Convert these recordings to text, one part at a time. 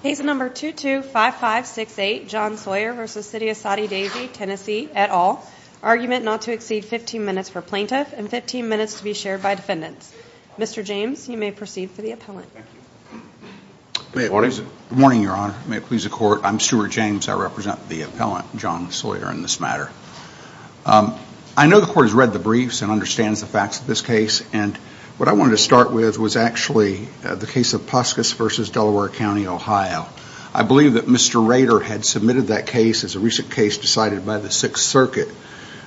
Case No. 225568 John Sawyer v. City of Soddy Daisy TN et al. Argument not to exceed 15 minutes for plaintiff and 15 minutes to be shared by defendants. Mr. James, you may proceed for the appellant. Good morning, Your Honor. May it please the Court, I'm Stewart James. I represent the appellant, John Sawyer, in this matter. I know the Court has read the briefs and understands the facts of this case. And what I wanted to start with was actually the case of Puskis v. Delaware County, Ohio. I believe that Mr. Rader had submitted that case as a recent case decided by the Sixth Circuit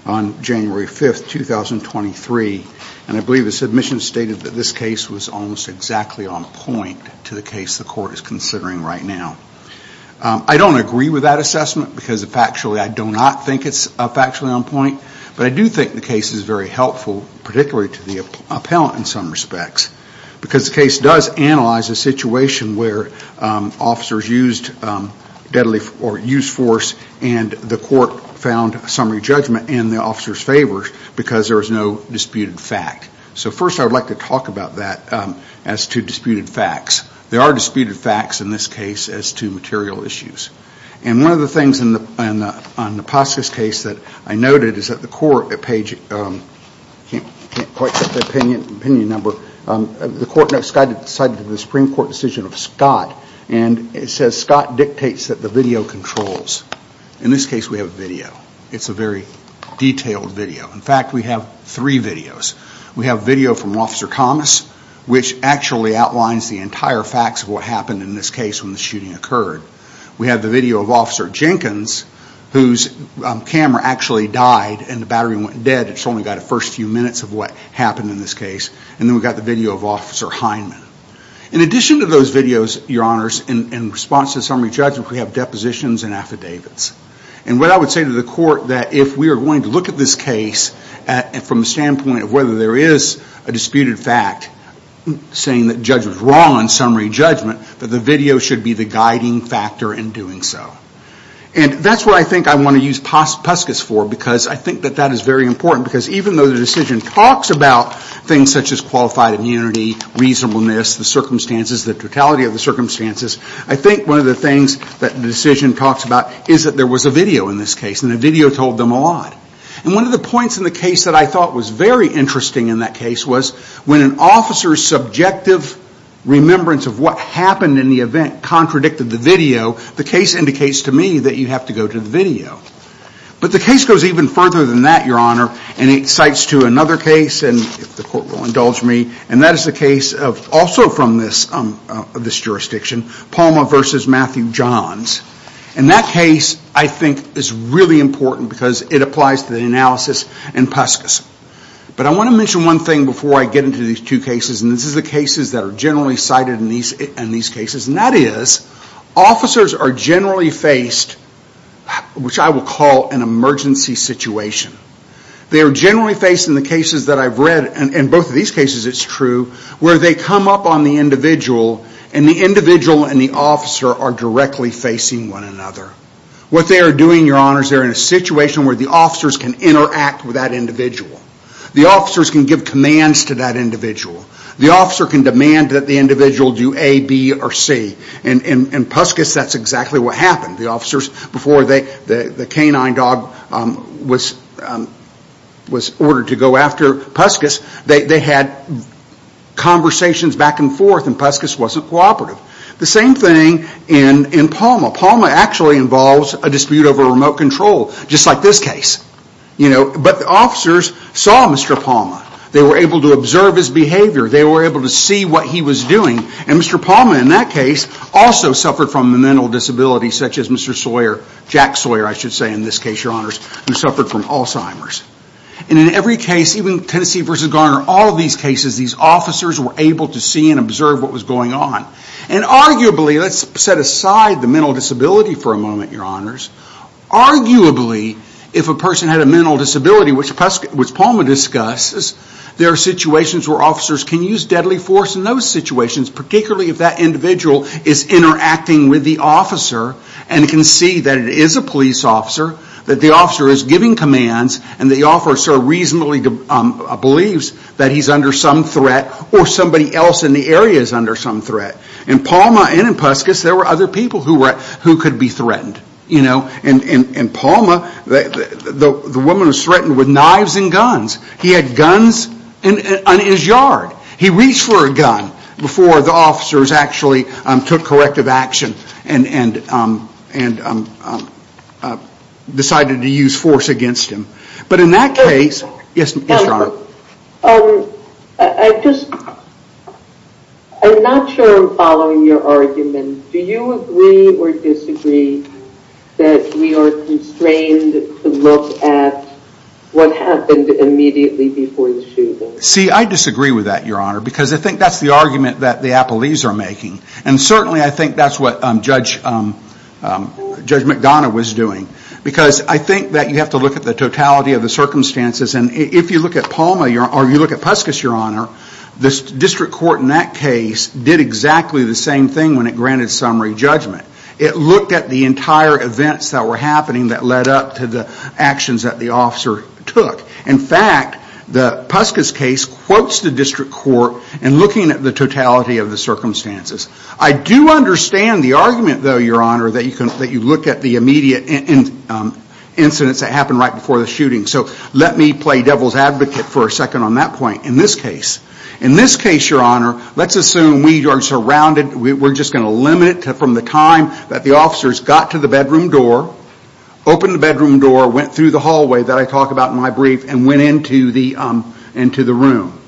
on January 5, 2023. And I believe the submission stated that this case was almost exactly on point to the case the Court is considering right now. I don't agree with that assessment because factually I do not think it's factually on point. But I do think the case is very helpful, particularly to the appellant in some respects, because the case does analyze a situation where officers used deadly or used force and the Court found summary judgment in the officer's favor because there was no disputed fact. So first I would like to talk about that as to disputed facts. There are disputed facts in this case as to material issues. And one of the things on the Puskis case that I noted is that the Court at page... I can't quite get the opinion number. The Court decided to the Supreme Court decision of Scott and it says Scott dictates that the video controls. In this case we have video. It's a very detailed video. In fact, we have three videos. We have video from Officer Commiss, which actually outlines the entire facts of what happened in this case when the shooting occurred. We have the video of Officer Jenkins, whose camera actually died and the battery went dead. It's only got the first few minutes of what happened in this case. And then we've got the video of Officer Hindman. In addition to those videos, Your Honors, in response to summary judgment we have depositions and affidavits. And what I would say to the Court that if we are going to look at this case from the standpoint of whether there is a disputed fact saying that the judge was wrong on summary judgment, that the video should be the guiding factor in doing so. And that's what I think I want to use Puskis for because I think that that is very important. Because even though the decision talks about things such as qualified immunity, reasonableness, the circumstances, the totality of the circumstances, I think one of the things that the decision talks about is that there was a video in this case. And the video told them a lot. And one of the points in the case that I thought was very interesting in that case was when an officer's subjective remembrance of what happened in the event contradicted the video, the case indicates to me that you have to go to the video. But the case goes even further than that, Your Honor, and it cites to another case, and if the Court will indulge me, and that is the case also from this jurisdiction, Palma v. Matthew Johns. And that case, I think, is really important because it applies to the analysis in Puskis. But I want to mention one thing before I get into these two cases. And this is the cases that are generally cited in these cases. And that is, officers are generally faced, which I will call an emergency situation. They are generally faced in the cases that I've read, and in both of these cases it's true, where they come up on the individual and the individual and the officer are directly facing one another. What they are doing, Your Honor, is they are in a situation where the officers can interact with that individual. The officers can give commands to that individual. The officer can demand that the individual do A, B, or C. In Puskis, that's exactly what happened. The officers, before the canine dog was ordered to go after Puskis, they had conversations back and forth, and Puskis wasn't cooperative. The same thing in Palma. Palma actually involves a dispute over remote control, just like this case. But the officers saw Mr. Palma. They were able to observe his behavior. They were able to see what he was doing. And Mr. Palma, in that case, also suffered from a mental disability, such as Mr. Sawyer, Jack Sawyer, I should say in this case, Your Honors, who suffered from Alzheimer's. And in every case, even Tennessee v. Garner, all these cases, these officers were able to see and observe what was going on. And arguably, let's set aside the mental disability for a moment, Your Honors. Arguably, if a person had a mental disability, which Palma discusses, there are situations where officers can use deadly force in those situations, particularly if that individual is interacting with the officer and can see that it is a police officer, that the officer is giving commands, and the officer reasonably believes that he is under some threat, or somebody else in the area is under some threat. In Palma and in Puskas, there were other people who could be threatened. In Palma, the woman was threatened with knives and guns. He had guns on his yard. He reached for a gun before the officers actually took corrective action and decided to use force against him. But in that case... Yes, Your Honor. I'm not sure I'm following your argument. Do you agree or disagree that we are constrained to look at what happened immediately before the shooting? See, I disagree with that, Your Honor, because I think that's the argument that the appellees are making. And certainly I think that's what Judge McDonough was doing. Because I think that you have to look at the totality of the circumstances. And if you look at Palma, or you look at Puskas, Your Honor, the district court in that case did exactly the same thing when it granted summary judgment. It looked at the entire events that were happening that led up to the actions that the officer took. In fact, the Puskas case quotes the district court in looking at the totality of the circumstances. I do understand the argument, though, Your Honor, that you look at the immediate incidents that happened right before the shooting. So let me play devil's advocate for a second on that point. In this case, Your Honor, let's assume we are surrounded. We're just going to limit it from the time that the officers got to the bedroom door, opened the bedroom door, went through the hallway that I talk about in my brief, and went into the room.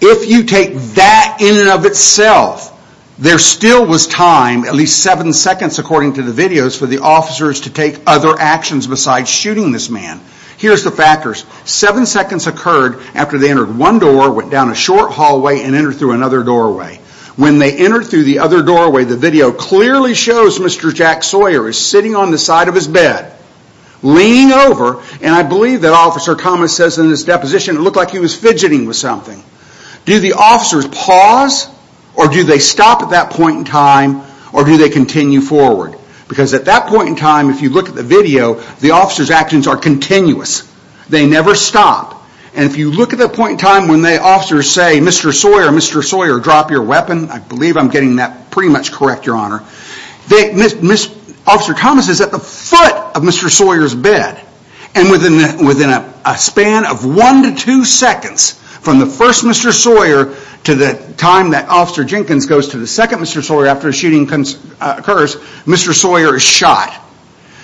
If you take that in and of itself, there still was time, at least seven seconds according to the videos, for the officers to take other actions besides shooting this man. Here's the factors. Seven seconds occurred after they entered one door, went down a short hallway, and entered through another doorway. When they entered through the other doorway, the video clearly shows Mr. Jack Sawyer is sitting on the side of his bed, leaning over, and I believe that Officer Thomas says in his deposition it looked like he was fidgeting with something. Do the officers pause, or do they stop at that point in time, or do they continue forward? Because at that point in time, if you look at the video, the officers' actions are continuous. They never stop. And if you look at that point in time when the officers say, Mr. Sawyer, Mr. Sawyer, drop your weapon. I believe I'm getting that pretty much correct, Your Honor. Officer Thomas is at the foot of Mr. Sawyer's bed. And within a span of one to two seconds, from the first Mr. Sawyer to the time that Officer Jenkins goes to the second Mr. Sawyer after the shooting occurs, Mr. Sawyer is shot.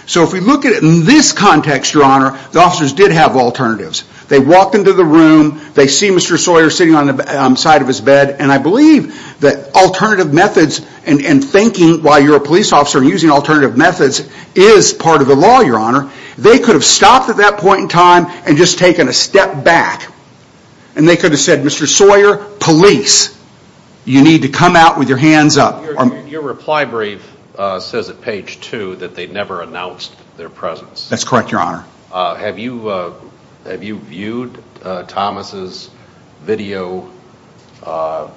So if we look at it in this context, Your Honor, the officers did have alternatives. They walked into the room, they see Mr. Sawyer sitting on the side of his bed, and I believe that alternative methods and thinking while you're a police officer and using alternative methods is part of the law, Your Honor. They could have stopped at that point in time and just taken a step back. And they could have said, Mr. Sawyer, police. You need to come out with your hands up. Your reply brief says at page two that they never announced their presence. That's correct, Your Honor. Have you viewed Thomas' video, body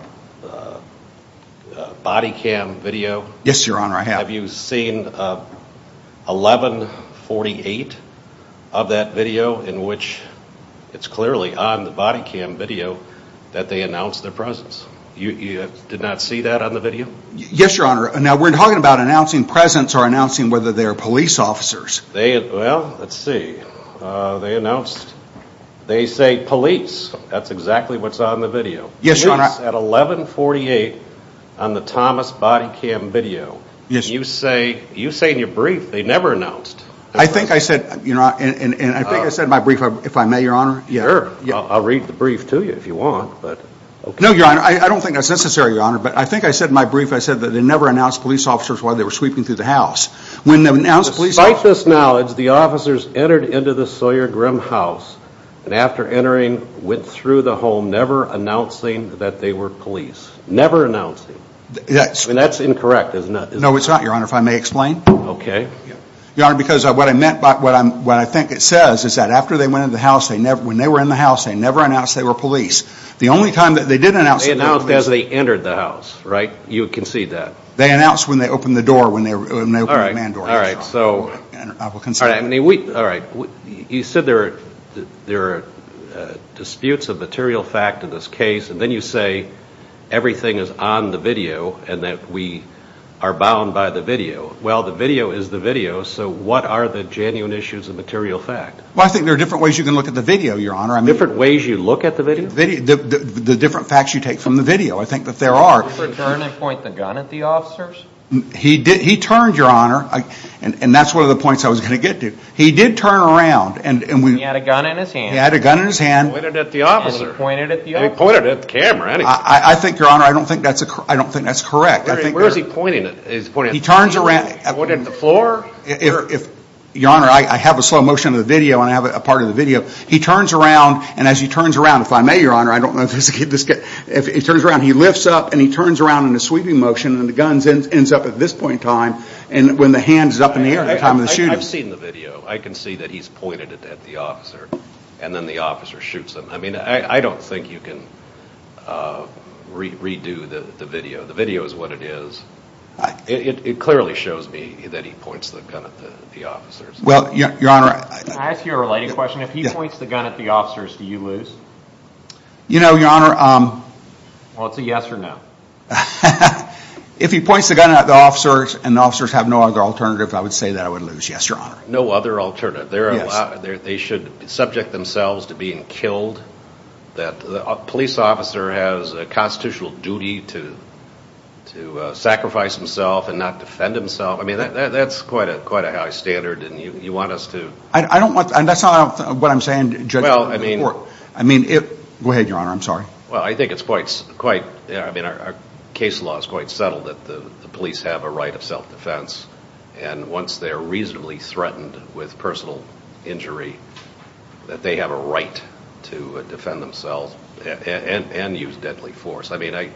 cam video? Yes, Your Honor, I have. Have you seen 1148 of that video in which it's clearly on the body cam video that they announced their presence? You did not see that on the video? Yes, Your Honor. Now we're talking about announcing presence or announcing whether they're police officers. Well, let's see. They announced, they say police. That's exactly what's on the video. Yes, Your Honor. It's at 1148 on the Thomas body cam video. You say in your brief they never announced. I think I said, and I think I said in my brief, if I may, Your Honor. Sure, I'll read the brief to you if you want. No, Your Honor, I don't think that's necessary, Your Honor, but I think I said in my brief that they never announced police officers while they were sweeping through the house. Despite this knowledge, the officers entered into the Sawyer-Grimm house and after entering went through the home never announcing that they were police. Never announcing. That's incorrect, isn't it? No, it's not, Your Honor, if I may explain. Okay. Your Honor, because what I meant by what I think it says is that after they went into the house, when they were in the house, they never announced they were police. The only time that they did announce that they were police. They announced as they entered the house, right? You concede that. They announced when they opened the door, when they opened the man door. All right. I will concede. All right. You said there are disputes of material fact in this case, and then you say everything is on the video and that we are bound by the video. Well, the video is the video, so what are the genuine issues of material fact? Well, I think there are different ways you can look at the video, Your Honor. Different ways you look at the video? The different facts you take from the video. I think that there are. The turn and point the gun at the officers? He did turn around. He had a gun in his hand. He had a gun in his hand. He pointed it at the officer. He pointed it at the officer. He pointed it at the camera. I think, Your Honor, I don't think that's correct. Where is he pointing it? He turns around. He pointed it at the floor? Your Honor, I have a slow motion of the video and I have a part of the video. He turns around, and as he turns around, if I may, Your Honor, I don't know if this is good. He turns around, he lifts up, and he turns around in a sweeping motion, and the gun ends up at this point in time when the hand is up in the air at the time of the shooting. I've seen the video. I can see that he's pointed it at the officer, and then the officer shoots him. I mean, I don't think you can redo the video. The video is what it is. It clearly shows me that he points the gun at the officers. Well, Your Honor. Can I ask you a related question? If he points the gun at the officers, do you lose? You know, Your Honor. Well, it's a yes or no. If he points the gun at the officers and the officers have no other alternative, I would say that I would lose. Yes, Your Honor. No other alternative. Yes. They should subject themselves to being killed. The police officer has a constitutional duty to sacrifice himself and not defend himself. I mean, that's quite a high standard, and you want us to. I don't want to, and that's not what I'm saying, Judge. Well, I mean. I mean, it. Go ahead, Your Honor. I'm sorry. Well, I think it's quite, I mean, our case law is quite subtle that the police have a right of self-defense. And once they're reasonably threatened with personal injury, that they have a right to defend themselves and use deadly force. I mean, I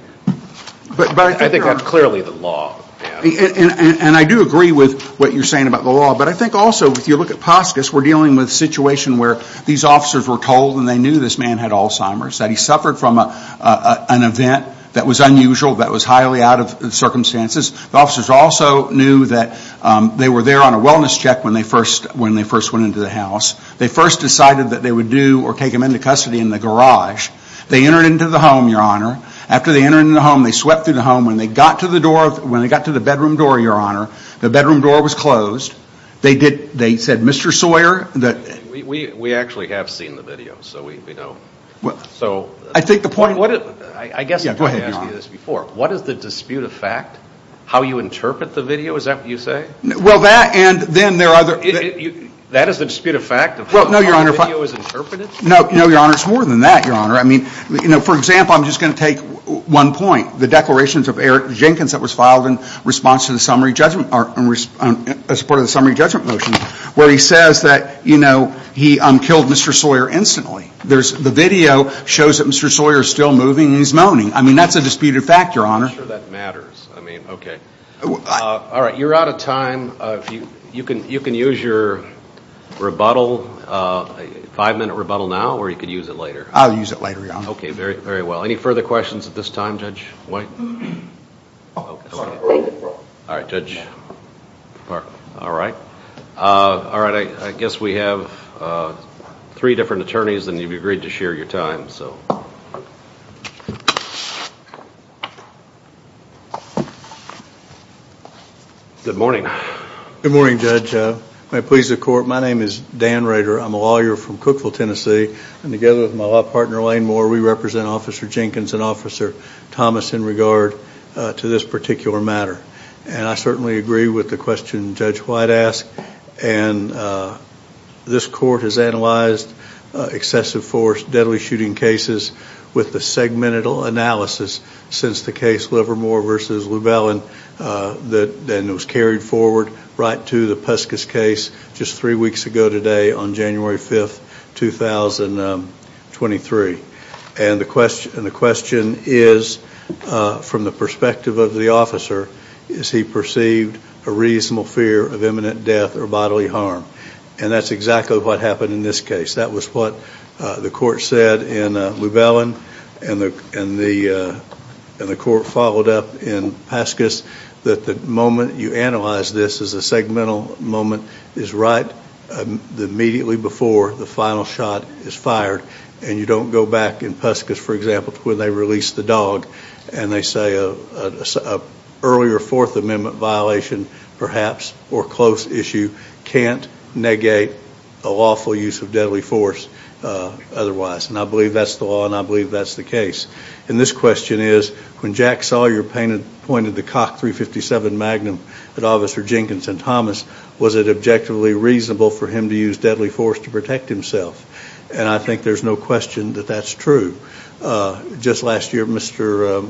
think that's clearly the law. And I do agree with what you're saying about the law. But I think also, if you look at Poskus, we're dealing with a situation where these officers were told, and they knew this man had Alzheimer's, that he suffered from an event that was unusual, that was highly out of circumstances. The officers also knew that they were there on a wellness check when they first went into the house. They first decided that they would do or take him into custody in the garage. They entered into the home, Your Honor. After they entered into the home, they swept through the home. When they got to the bedroom door, Your Honor, the bedroom door was closed. They said, Mr. Sawyer, that. We actually have seen the video, so we know. So. I think the point. Yeah, go ahead, Your Honor. I guess I've asked you this before. What is the dispute of fact? How you interpret the video? Is that what you say? Well, that and then there are other. That is the dispute of fact of how the video is interpreted? No, Your Honor. It's more than that, Your Honor. I mean, for example, I'm just going to take one point. The declarations of Eric Jenkins that was filed in response to the summary judgment, as part of the summary judgment motion, where he says that he killed Mr. Sawyer instantly. The video shows that Mr. Sawyer is still moving and he's moaning. I mean, that's a disputed fact, Your Honor. I'm not sure that matters. I mean, okay. All right. You're out of time. You can use your rebuttal, five-minute rebuttal now, or you could use it later. I'll use it later, Your Honor. Okay. Very well. Any further questions at this time, Judge White? All right, Judge. All right. I guess we have three different attorneys, and you've agreed to share your time. Good morning. Good morning, Judge. May it please the Court, my name is Dan Rader. I'm a lawyer from Cookville, Tennessee, and together with my law partner, Elaine Moore, we represent Officer Jenkins and Officer Thomas in regard to this particular matter. And I certainly agree with the question Judge White asked. And this Court has analyzed excessive force, deadly shooting cases with the segmented analysis since the case Livermore v. Llewellyn that was carried forward right to the Peskis case just three weeks ago today on January 5th, 2023. And the question is, from the perspective of the officer, is he perceived a reasonable fear of imminent death or bodily harm? And that's exactly what happened in this case. That was what the Court said in Llewellyn, and the Court followed up in Peskis, that the moment you analyze this as a segmental moment is right immediately before the final shot is fired, and you don't go back in Peskis, for example, to when they released the dog, and they say an earlier Fourth Amendment violation, perhaps, or close issue, can't negate a lawful use of deadly force otherwise. And I believe that's the law, and I believe that's the case. And this question is, when Jack Sawyer pointed the Cock .357 Magnum at Officer Jenkins and Thomas, was it objectively reasonable for him to use deadly force to protect himself? And I think there's no question that that's true. Just last year, Mr.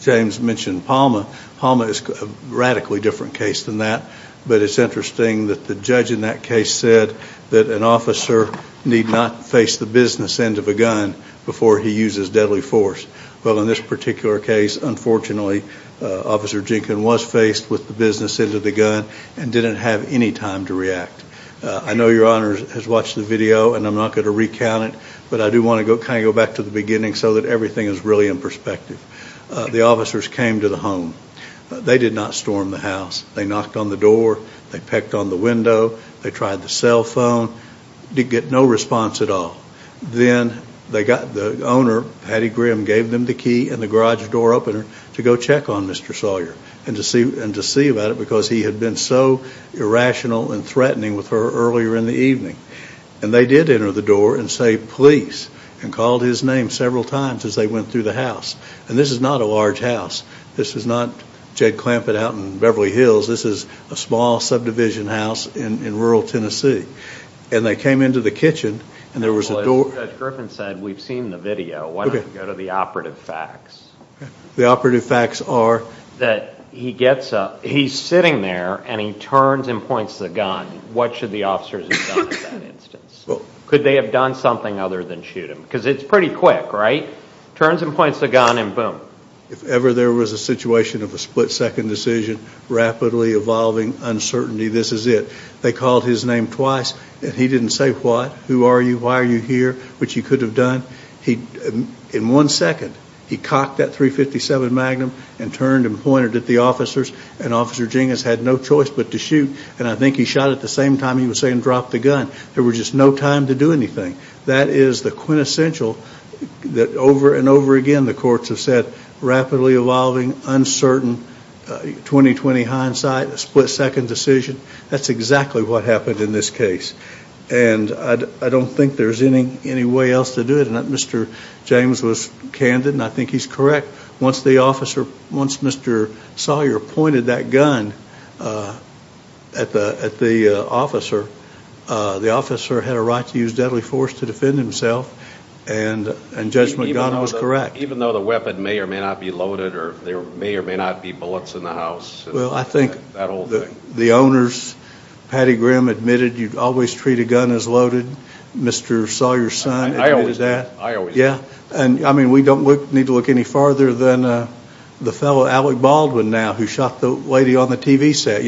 James mentioned Palma. Palma is a radically different case than that, but it's interesting that the judge in that case said that an officer need not face the business end of a gun before he uses deadly force. Well, in this particular case, unfortunately, Officer Jenkins was faced with the business end of the gun and didn't have any time to react. I know Your Honor has watched the video, and I'm not going to recount it, but I do want to kind of go back to the beginning so that everything is really in perspective. The officers came to the home. They did not storm the house. They knocked on the door. They pecked on the window. They tried the cell phone. Didn't get no response at all. Then the owner, Patty Grimm, gave them the key and the garage door opener to go check on Mr. Sawyer and to see about it because he had been so irrational and threatening with her earlier in the evening. And they did enter the door and say, Please, and called his name several times as they went through the house. And this is not a large house. This is not Jed Clampett out in Beverly Hills. This is a small subdivision house in rural Tennessee. And they came into the kitchen, and there was a door. Well, as Judge Griffin said, we've seen the video. Why don't we go to the operative facts? The operative facts are? That he gets up. He's sitting there, and he turns and points the gun. What should the officers have done in that instance? Could they have done something other than shoot him? Because it's pretty quick, right? Turns and points the gun, and boom. If ever there was a situation of a split-second decision, rapidly evolving uncertainty, this is it. They called his name twice, and he didn't say what, who are you, why are you here, which he could have done. In one second, he cocked that .357 Magnum and turned and pointed at the officers, and Officer Gingas had no choice but to shoot. And I think he shot at the same time he was saying drop the gun. There was just no time to do anything. That is the quintessential that over and over again the courts have said, rapidly evolving, uncertain, 20-20 hindsight, split-second decision. That's exactly what happened in this case. And I don't think there's any way else to do it. Mr. James was candid, and I think he's correct. Once Mr. Sawyer pointed that gun at the officer, the officer had a right to use deadly force to defend himself, and Judge McGonagall was correct. Even though the weapon may or may not be loaded, or there may or may not be bullets in the house, that whole thing. The owners, Patty Grimm admitted you'd always treat a gun as loaded. Mr. Sawyer's son admitted that. I always did. Yeah. I mean, we don't need to look any farther than the fellow Alec Baldwin now who shot the lady on the TV set.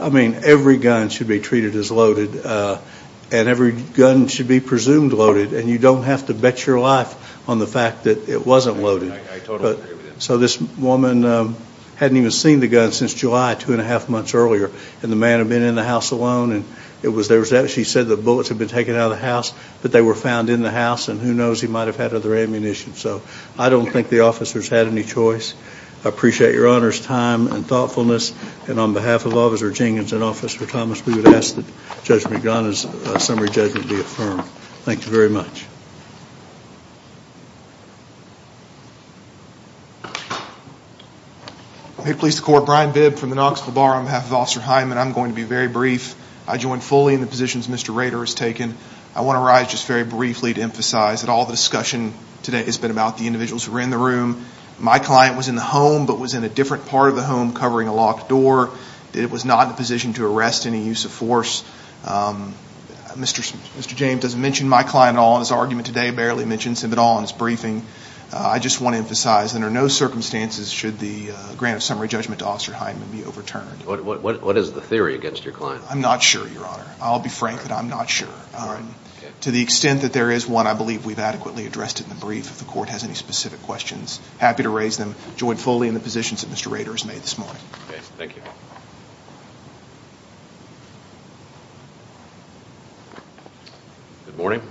I mean, every gun should be treated as loaded, and every gun should be presumed loaded, and you don't have to bet your life on the fact that it wasn't loaded. I totally agree with him. So this woman hadn't even seen the gun since July, two and a half months earlier, and the man had been in the house alone. She said the bullets had been taken out of the house, that they were found in the house, and who knows, he might have had other ammunition. So I don't think the officers had any choice. I appreciate Your Honor's time and thoughtfulness, and on behalf of Officer Jenkins and Officer Thomas, we would ask that Judge McGonagall's summary judgment be affirmed. Thank you very much. Make police the court. Brian Bibb from the Knoxville Bar. On behalf of Officer Hyman, I'm going to be very brief. I join fully in the positions Mr. Rader has taken. I want to rise just very briefly to emphasize that all the discussion today has been about the individuals who were in the room. My client was in the home but was in a different part of the home covering a locked door. It was not in a position to arrest any use of force. Mr. James doesn't mention my client at all in his argument today, barely mentions him at all in his briefing. I just want to emphasize that under no circumstances should the grant of summary judgment to Officer Hyman be overturned. What is the theory against your client? I'm not sure, Your Honor. I'll be frank that I'm not sure. To the extent that there is one, I believe we've adequately addressed it in the brief. If the court has any specific questions, happy to raise them. I join fully in the positions that Mr. Rader has made this morning. Thank you. Good morning.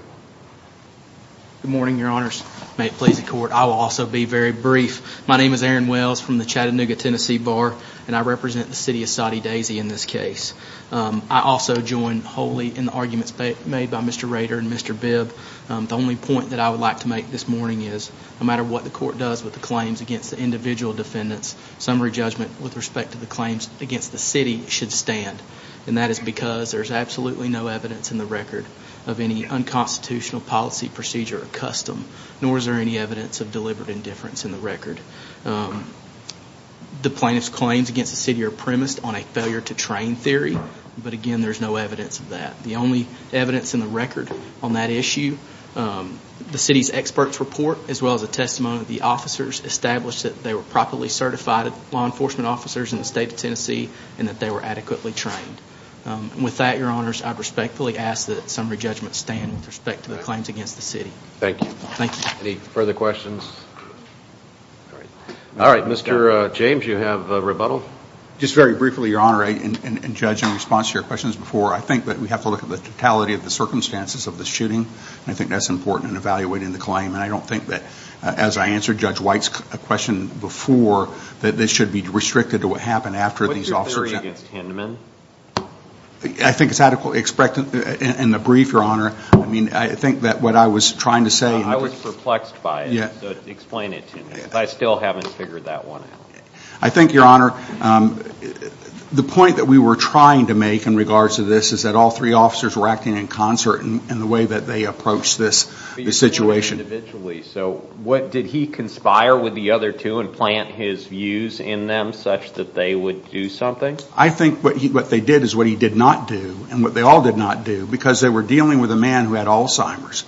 Good morning, Your Honors. May it please the court. I will also be very brief. My name is Aaron Wells from the Chattanooga, Tennessee Bar, and I represent the city of Soddy Daisy in this case. I also join wholly in the arguments made by Mr. Rader and Mr. Bibb. The only point that I would like to make this morning is no matter what the court does with the claims against the individual defendants, summary judgment with respect to the claims against the city should stand, and that is because there is absolutely no evidence in the record of any unconstitutional policy, procedure, or custom, nor is there any evidence of deliberate indifference in the record. The plaintiff's claims against the city are premised on a failure to train theory, but, again, there is no evidence of that. The only evidence in the record on that issue, the city's expert's report, as well as a testimony of the officers, established that they were properly certified law enforcement officers in the state of Tennessee and that they were adequately trained. With that, Your Honors, I respectfully ask that summary judgment stand with respect to the claims against the city. Thank you. Thank you. Any further questions? All right. Mr. James, you have rebuttal. Just very briefly, Your Honor, and, Judge, in response to your questions before, I think that we have to look at the totality of the circumstances of the shooting, and I think that's important in evaluating the claim, and I don't think that, as I answered Judge White's question before, that this should be restricted to what happened after these officers. What's your theory against Hinman? I think it's adequately expected in the brief, Your Honor. I mean, I think that what I was trying to say. I was perplexed by it, so explain it to me, because I still haven't figured that one out. I think, Your Honor, the point that we were trying to make in regards to this is that all three officers were acting in concert in the way that they approached this situation. So what, did he conspire with the other two and plant his views in them such that they would do something? I think what they did is what he did not do, and what they all did not do, because they were dealing with a man who had Alzheimer's.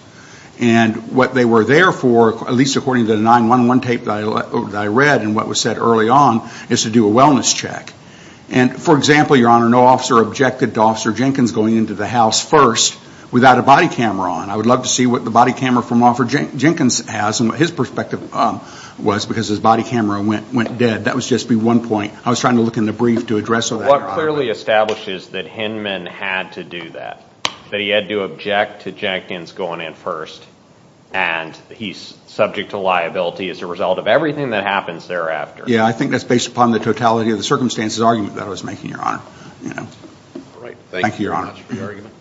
And what they were there for, at least according to the 911 tape that I read and what was said early on, is to do a wellness check. And, for example, Your Honor, no officer objected to Officer Jenkins going into the house first without a body camera on. I would love to see what the body camera from Officer Jenkins has, and what his perspective was, because his body camera went dead. That would just be one point. I was trying to look in the brief to address all that, Your Honor. What clearly establishes that Hinman had to do that, that he had to object to Jenkins going in first, and he's subject to liability as a result of everything that happens thereafter. Yeah, I think that's based upon the totality of the circumstances argument that I was making, Your Honor. Thank you very much for your argument.